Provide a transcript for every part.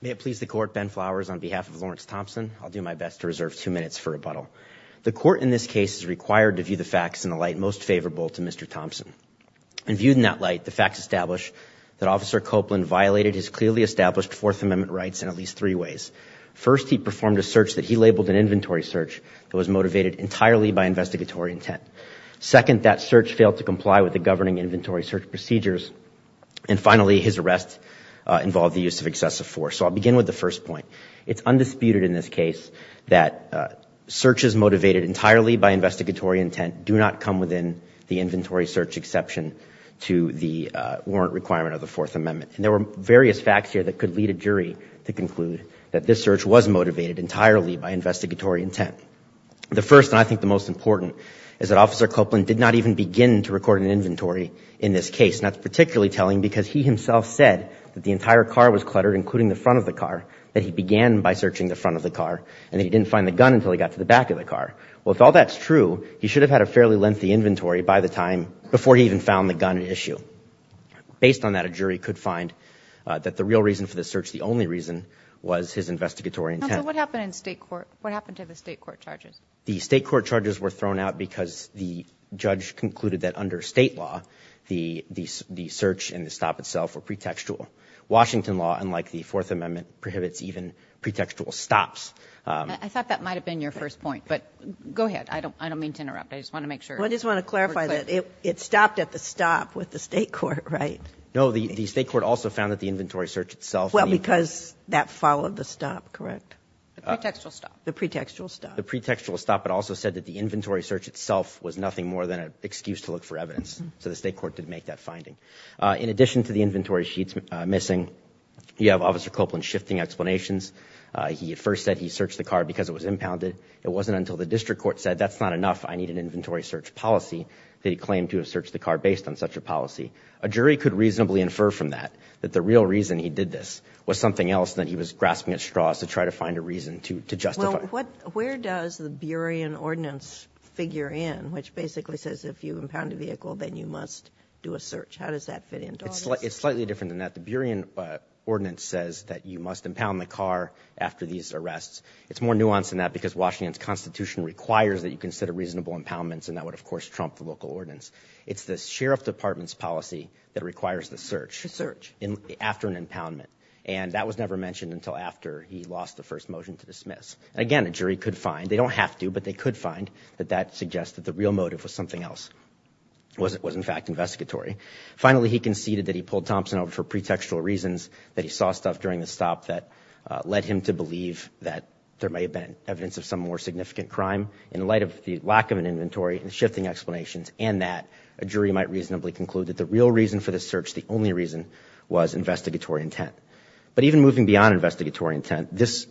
May it please the court Ben Flowers on behalf of Lawrence Thompson I'll do my best to reserve two minutes for rebuttal. The court in this case is required to view the facts in the light most favorable to Mr. Thompson and viewed in that light the facts establish that officer Copeland violated his clearly established Fourth Amendment rights in at least three ways. First he performed a search that he labeled an inventory search that was motivated entirely by investigatory intent. Second that search failed to comply with the governing inventory search procedures and finally his arrest involved the use of excessive force. So I'll begin with the first point. It's undisputed in this case that searches motivated entirely by investigatory intent do not come within the inventory search exception to the warrant requirement of the Fourth Amendment and there were various facts here that could lead a jury to conclude that this search was motivated entirely by investigatory intent. The first and I think the most important is that officer Copeland did not even begin to record an in this case. That's particularly telling because he himself said that the entire car was cluttered including the front of the car that he began by searching the front of the car and he didn't find the gun until he got to the back of the car. Well if all that's true he should have had a fairly lengthy inventory by the time before he even found the gun issue. Based on that a jury could find that the real reason for the search the only reason was his investigatory intent. What happened in state court what happened to the state court charges? The state court charges were thrown out because the judge concluded that under state law the the search and the stop itself were pretextual. Washington law unlike the Fourth Amendment prohibits even pretextual stops. I thought that might have been your first point but go ahead I don't I don't mean to interrupt I just want to make sure. I just want to clarify that it stopped at the stop with the state court right? No the state court also found that the inventory search itself. Well because that followed the stop correct? The pretextual stop. The pretextual stop. The pretextual stop but also said that the inventory search itself was nothing more than an excuse to look for evidence. So the state court did make that finding. In addition to the inventory sheets missing you have officer Copeland shifting explanations. He first said he searched the car because it was impounded. It wasn't until the district court said that's not enough I need an inventory search policy that he claimed to have searched the car based on such a policy. A jury could reasonably infer from that that the real reason he did this was something else that he was grasping at straws to try to reason to justify. Well what where does the Burien ordinance figure in which basically says if you impound a vehicle then you must do a search. How does that fit in? It's like it's slightly different than that the Burien ordinance says that you must impound the car after these arrests. It's more nuanced than that because Washington's Constitution requires that you consider reasonable impoundments and that would of course trump the local ordinance. It's the Sheriff Department's policy that requires the search. The search. After an impoundment and that was never mentioned until after he lost the first motion to dismiss. Again a jury could find they don't have to but they could find that that suggests that the real motive was something else. Was it was in fact investigatory. Finally he conceded that he pulled Thompson over for pretextual reasons that he saw stuff during the stop that led him to believe that there may have been evidence of some more significant crime in light of the lack of an inventory and shifting explanations and that a jury might reasonably conclude that the real reason for the search the only reason was investigatory intent. But even moving beyond investigatory intent this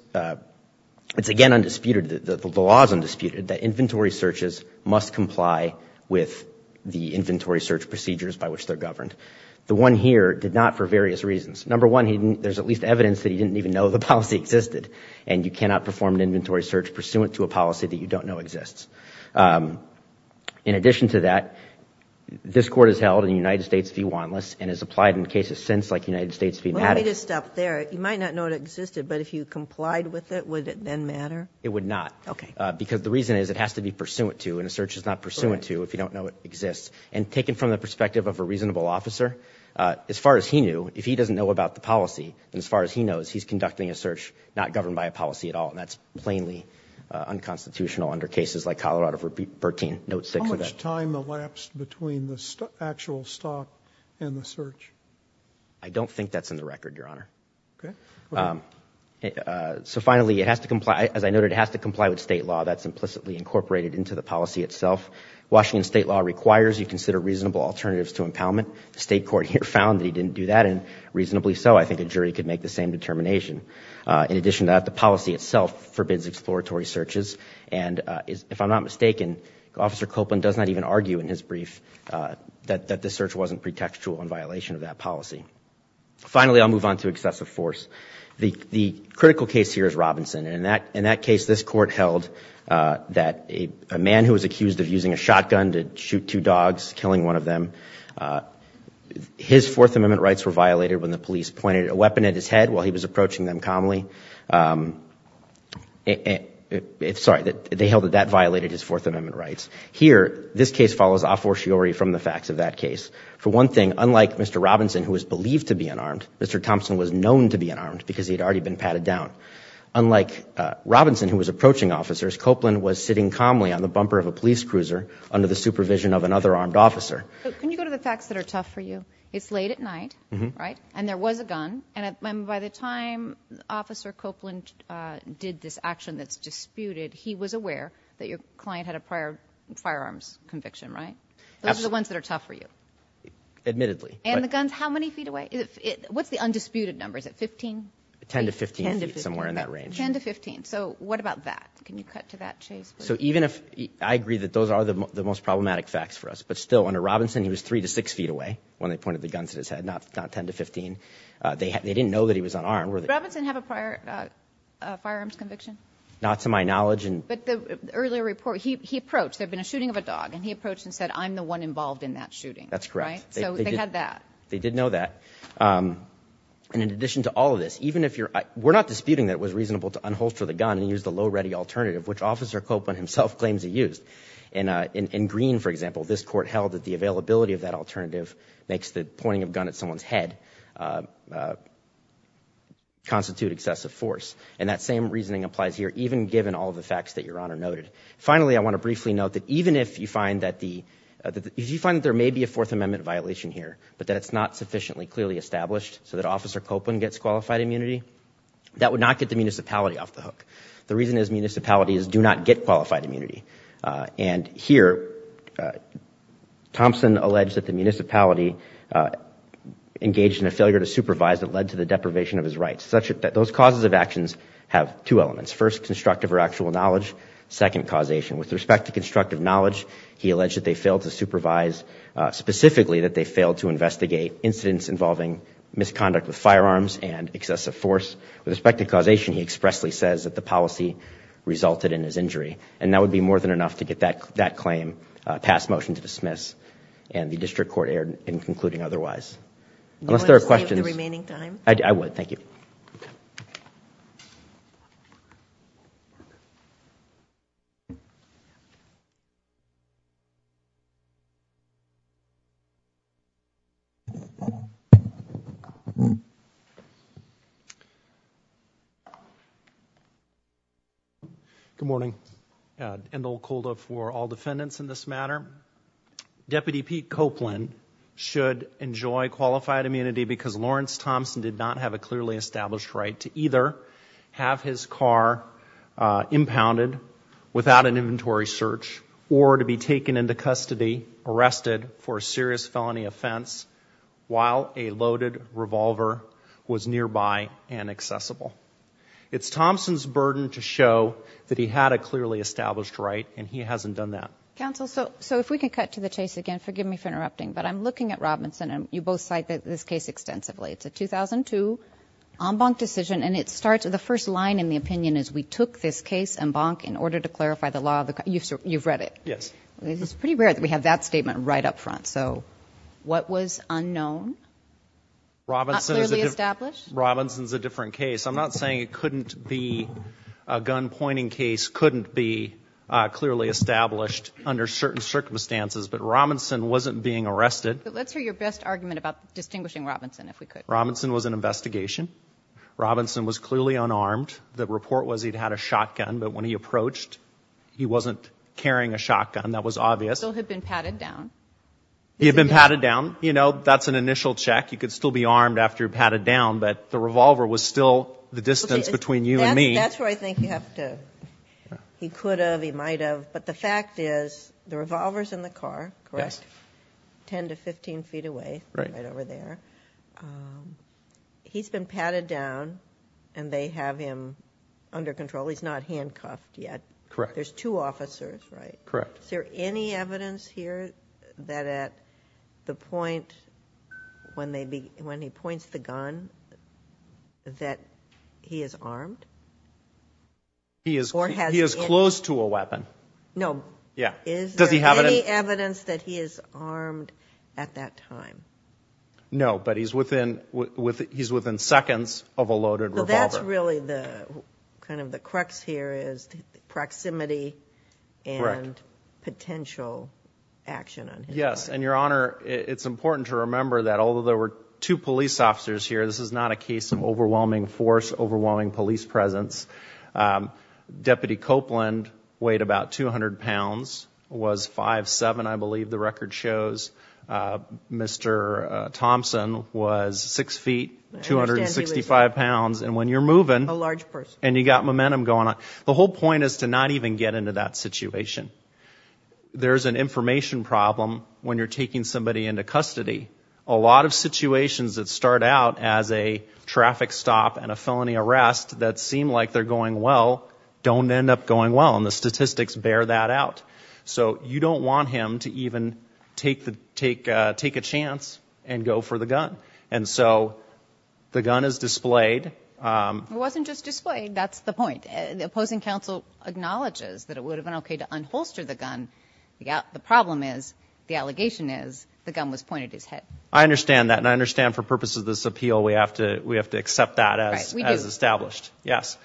it's again undisputed that the law is undisputed that inventory searches must comply with the inventory search procedures by which they're governed. The one here did not for various reasons. Number one he didn't there's at least evidence that he didn't even know the policy existed and you cannot perform an inventory search pursuant to a policy that you don't know exists. In addition to that this court is held in the United States v. Wanless and has applied in cases since like United States v. Maddox. Let me just stop there. You might not know it existed but if you complied with it would it then matter? It would not. Okay. Because the reason is it has to be pursuant to and a search is not pursuant to if you don't know it exists and taken from the perspective of a reasonable officer as far as he knew if he doesn't know about the policy and as far as he knows he's conducting a search not governed by a policy at all and that's plainly unconstitutional under cases like Colorado v. Bertine. Note 6. How much time between the actual stop and the search? I don't think that's in the record, Your Honor. Okay. So finally it has to comply as I noted it has to comply with state law that's implicitly incorporated into the policy itself. Washington state law requires you consider reasonable alternatives to impoundment. The state court here found that he didn't do that and reasonably so I think a jury could make the same determination. In addition to that the policy itself forbids exploratory searches and if I'm not mistaken Officer Copeland does not even argue in his brief that the search wasn't pretextual in violation of that policy. Finally I'll move on to excessive force. The critical case here is Robinson and that in that case this court held that a man who was accused of using a shotgun to shoot two dogs killing one of them his Fourth Amendment rights were violated when the police pointed a weapon at his head while he was approaching them calmly. It's sorry that they held that that violated his case follows a fortiori from the facts of that case. For one thing unlike Mr. Robinson who was believed to be unarmed Mr. Thompson was known to be unarmed because he had already been patted down. Unlike Robinson who was approaching officers Copeland was sitting calmly on the bumper of a police cruiser under the supervision of another armed officer. Can you go to the facts that are tough for you? It's late at night right and there was a gun and by the time Officer Copeland did this action that's disputed he was aware that your client had a prior firearms conviction right? Those are the ones that are tough for you. Admittedly. And the guns how many feet away? What's the undisputed number is it 15? 10 to 15 somewhere in that range. 10 to 15 so what about that? Can you cut to that chase? So even if I agree that those are the most problematic facts for us but still under Robinson he was three to six feet away when they pointed the guns at his head not 10 to 15. They didn't know that he was unarmed. Did Robinson have a prior firearms conviction? Not to my knowledge. But the earlier report he approached there'd been a shooting of a dog and he approached and said I'm the one involved in that shooting. That's correct. So they had that. They did know that and in addition to all of this even if you're we're not disputing that it was reasonable to unholster the gun and use the low ready alternative which Officer Copeland himself claims he used and in green for example this court held that the availability of that alternative makes the pointing of gun at someone's head constitute excessive force and that same reasoning applies here even given all of the facts that your honor noted. Finally I want to briefly note that even if you find that the if you find there may be a Fourth Amendment violation here but that it's not sufficiently clearly established so that Officer Copeland gets qualified immunity that would not get the municipality off the hook. The reason is municipalities do not get qualified immunity and here Thompson alleged that the municipality engaged in a failure to supervise that led to the deprivation of his rights such that those causes of actions have two elements first constructive or actual knowledge second causation. With respect to constructive knowledge he alleged that they failed to supervise specifically that they failed to investigate incidents involving misconduct with firearms and excessive force. With respect to causation he expressly says that the policy resulted in his injury and that would be more than enough to get that that claim passed motion to dismiss and the district court erred in concluding otherwise. Unless there are questions. I would thank you. Good morning. Endel Kolda for all defendants in this matter. Deputy Pete Copeland should enjoy qualified immunity because Lawrence Thompson did not have a without an inventory search or to be taken into custody arrested for a serious felony offense while a loaded revolver was nearby and accessible. It's Thompson's burden to show that he had a clearly established right and he hasn't done that. Counsel so so if we can cut to the chase again forgive me for interrupting but I'm looking at Robinson and you both cite that this case extensively it's a 2002 en banc decision and it starts at the first line in the en banc in order to clarify the law. You've read it. Yes. It's pretty rare that we have that statement right up front so what was unknown? Robinson's a different case. I'm not saying it couldn't be a gun pointing case couldn't be clearly established under certain circumstances but Robinson wasn't being arrested. Let's hear your best argument about distinguishing Robinson if we could. Robinson was an investigation. Robinson was clearly unarmed. The report was he'd had a shotgun but when he approached he wasn't carrying a shotgun that was obvious. Still had been patted down. He had been patted down you know that's an initial check you could still be armed after you're patted down but the revolver was still the distance between you and me. That's where I think you have to he could have he might have but the fact is the revolvers in the car correct ten to fifteen feet away right over there he's been patted down and they have him under control he's not handcuffed yet correct there's two officers right correct is there any evidence here that at the point when they be when he points the gun that he is armed he is or has he is close to a weapon no yeah is does he have any evidence that he is armed at that time no but he's within with he's within seconds of a loaded revolver that's really the kind of the crux here is proximity and potential action yes and your honor it's important to remember that although there were two police officers here this is not a case of overwhelming force overwhelming police presence deputy Copeland weighed about 200 pounds was five seven I believe the officer Thompson was six feet 265 pounds and when you're moving a large person and you got momentum going on the whole point is to not even get into that situation there's an information problem when you're taking somebody into custody a lot of situations that start out as a traffic stop and a felony arrest that seem like they're going well don't end up going well and the statistics bear that out so you don't want him to even take the take take a chance and go for the gun and so the gun is displayed it wasn't just displayed that's the point the opposing counsel acknowledges that it would have been okay to unholster the gun yeah the problem is the allegation is the gun was pointed his head I understand that and I understand for purposes of this appeal we have to we have to accept that as established yes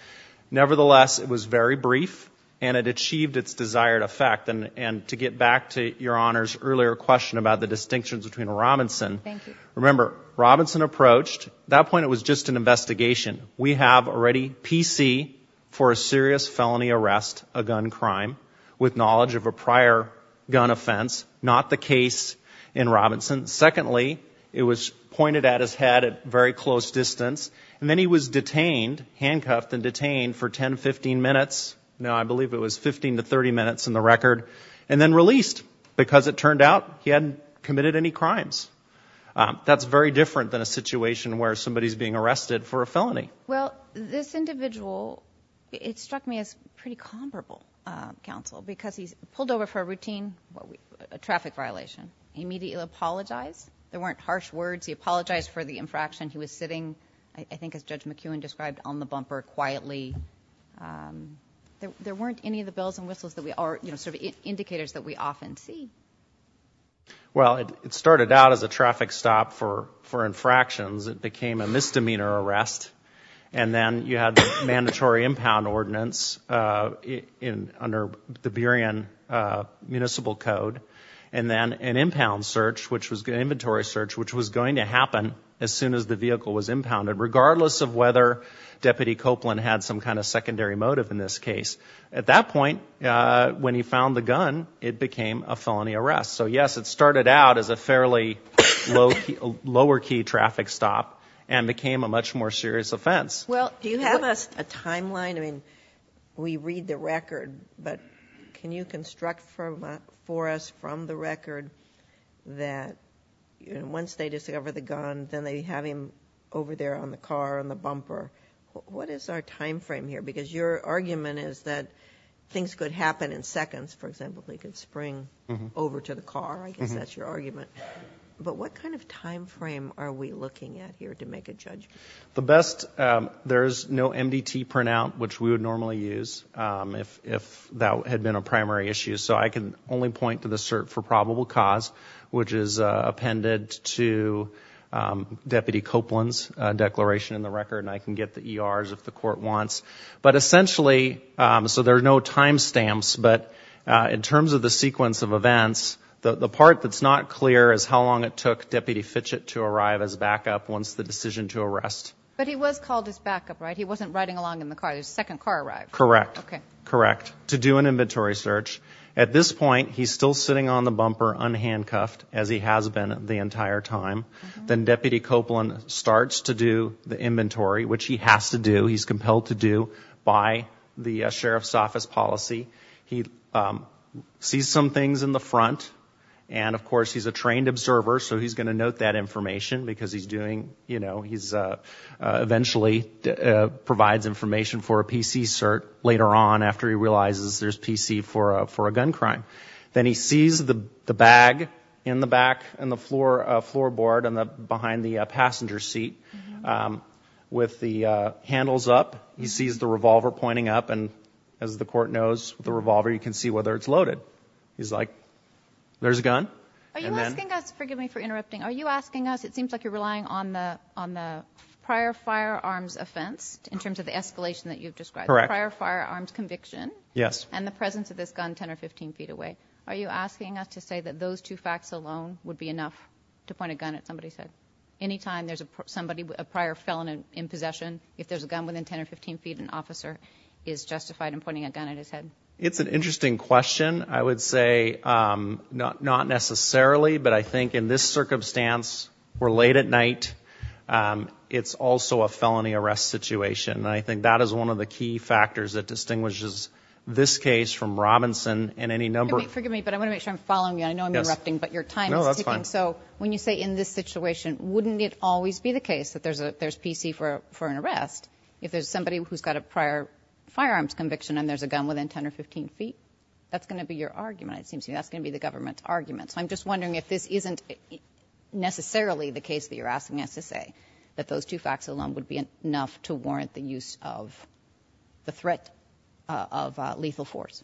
nevertheless it was very brief and it achieved its desired effect and and to get back to your honors earlier question about the distinctions between Robinson remember Robinson approached that point it was just an investigation we have already PC for a serious felony arrest a gun crime with knowledge of a prior gun offense not the case in Robinson secondly it was pointed at his head at very close distance and then he was 15 to 30 minutes in the record and then released because it turned out he hadn't committed any crimes that's very different than a situation where somebody's being arrested for a felony well this individual it struck me as pretty comparable counsel because he's pulled over for a routine traffic violation immediately apologized there weren't harsh words he apologized for the infraction he was sitting I think as judge McEwen described on the bumper quietly there weren't any of the bells and whistles that we are you know sort of indicators that we often see well it started out as a traffic stop for for infractions it became a misdemeanor arrest and then you had mandatory impound ordinance in under the Berrien municipal code and then an impound search which was good inventory search which was going to happen as soon as the Copeland had some kind of secondary motive in this case at that point when he found the gun it became a felony arrest so yes it started out as a fairly low lower key traffic stop and became a much more serious offense well do you have a timeline I mean we read the record but can you construct from for us from the record that once they discover the gun then they have him over there on the car on the bumper what is our time frame here because your argument is that things could happen in seconds for example they could spring over to the car I guess that's your argument but what kind of time frame are we looking at here to make a judgment the best there's no MDT printout which we would normally use if that had been a primary issue so I can only point to the cert for in the record I can get the ERs if the court wants but essentially so there's no timestamps but in terms of the sequence of events the part that's not clear is how long it took deputy Fitch it to arrive as backup once the decision to arrest but he was called his backup right he wasn't riding along in the car his second car arrived correct okay correct to do an inventory search at this point he's still sitting on the bumper unhandcuffed as he has been the entire time then deputy Copeland starts to do the inventory which he has to do he's compelled to do by the sheriff's office policy he sees some things in the front and of course he's a trained observer so he's going to note that information because he's doing you know he's eventually provides information for a PC cert later on after he realizes there's PC for a for a gun crime then he sees the bag in the back and the floor floorboard and the behind the passenger seat with the handles up he sees the revolver pointing up and as the court knows the revolver you can see whether it's loaded he's like there's a gun are you asking us forgive me for interrupting are you asking us it seems like you're relying on the on the prior firearms offense in terms of the escalation that you've described prior firearms conviction yes and the presence of this gun 10 or 15 feet away are you asking us to say that those two facts alone would be enough to point a gun at somebody said anytime there's a somebody with a prior felon in possession if there's a gun within 10 or 15 feet an officer is justified in pointing a gun at his head it's an interesting question I would say not not necessarily but I think in this circumstance we're late at night it's also a felony arrest situation I think that is one of the key factors that distinguishes this case from Robinson and any number forgive me but I want to make sure I'm following you I know I'm interrupting but your time so when you say in this situation wouldn't it always be the case that there's a there's PC for for an arrest if there's somebody who's got a prior firearms conviction and there's a gun within 10 or 15 feet that's gonna be your argument it seems to me that's gonna be the government's argument so I'm just wondering if this isn't necessarily the case that you're asking us to say that those two facts alone would be enough to warrant the use of the threat of lethal force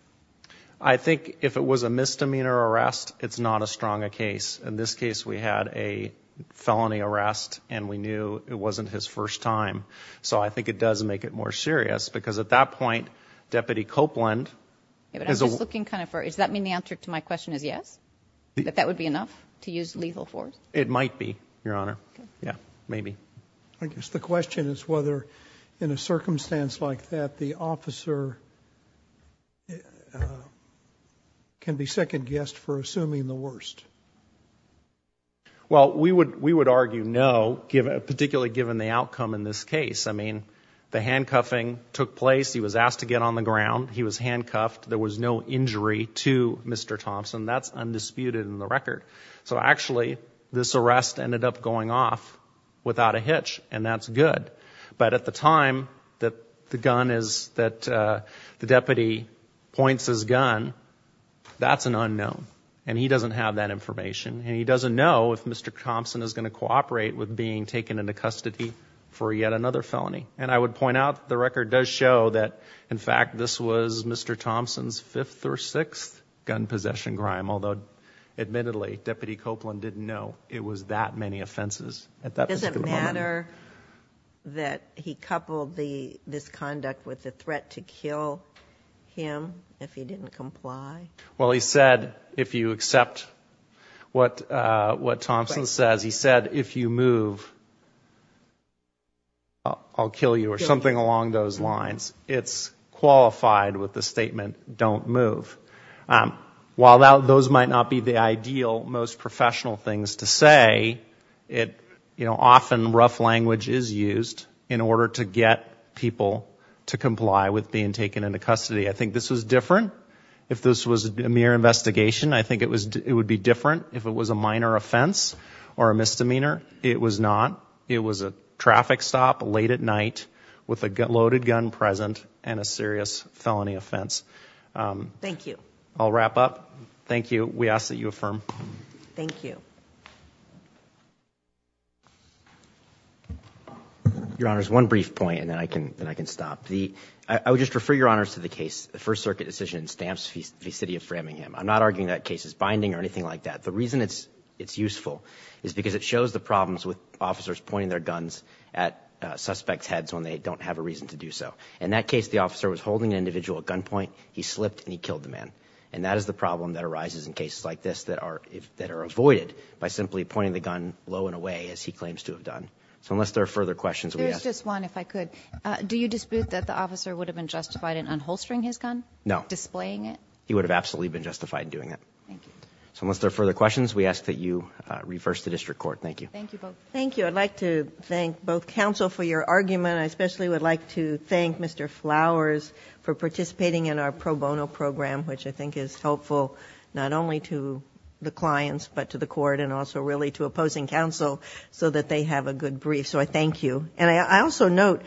I think if it was a misdemeanor arrest it's not a strong a case in this case we had a felony arrest and we knew it wasn't his first time so I think it does make it more serious because at that point deputy Copeland is looking kind of for is that mean the answer to my question is yes but that would be enough to use lethal force it might be your honor yeah maybe I guess the question is whether in a circumstance like that the officer can be second-guessed for assuming the worst well we would we would argue no give a particularly given the outcome in this case I mean the handcuffing took place he was asked to get on the ground he was handcuffed there was no injury to mr. Thompson that's undisputed in the record so actually this arrest ended up going off without a hitch and that's good but at the time that the gun is that the deputy points his gun that's an unknown and he doesn't have that information and he doesn't know if mr. Thompson is going to cooperate with being taken into custody for yet another felony and I would point out the record does show that in fact this was mr. Thompson's fifth or sixth gun possession crime although admittedly deputy Copeland didn't know it was that many offenses at that doesn't matter that he coupled the misconduct with the threat to kill him if he didn't comply well he said if you accept what what Thompson says he said if you move I'll kill you or something along those lines it's might not be the ideal most professional things to say it you know often rough language is used in order to get people to comply with being taken into custody I think this was different if this was a mere investigation I think it was it would be different if it was a minor offense or a misdemeanor it was not it was a traffic stop late at night with a loaded gun present and a serious we ask that you affirm thank you your honor's one brief point and then I can then I can stop the I would just refer your honors to the case the First Circuit decision stamps the city of Framingham I'm not arguing that case is binding or anything like that the reason it's it's useful is because it shows the problems with officers pointing their guns at suspects heads when they don't have a reason to do so in that case the officer was holding an individual at gunpoint he slipped and he killed the man and that is the problem that arises in cases like this that are if that are avoided by simply pointing the gun low and away as he claims to have done so unless there are further questions we ask this one if I could do you dispute that the officer would have been justified in unholstering his gun no displaying it he would have absolutely been justified in doing it so unless there are further questions we ask that you reverse the district court thank you thank you I'd like to thank both counsel for your argument I especially would like to thank mr. flowers for the clients but to the court and also really to opposing counsel so that they have a good brief so I thank you and I also note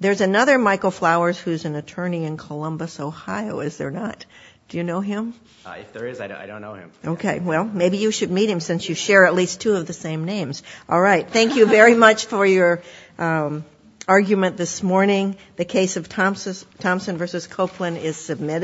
there's another Michael flowers who's an attorney in Columbus Ohio is there not do you know him okay well maybe you should meet him since you share at least two of the same names all right thank you very much for your argument this morning the case of Thompson Thompson versus Copeland is submitted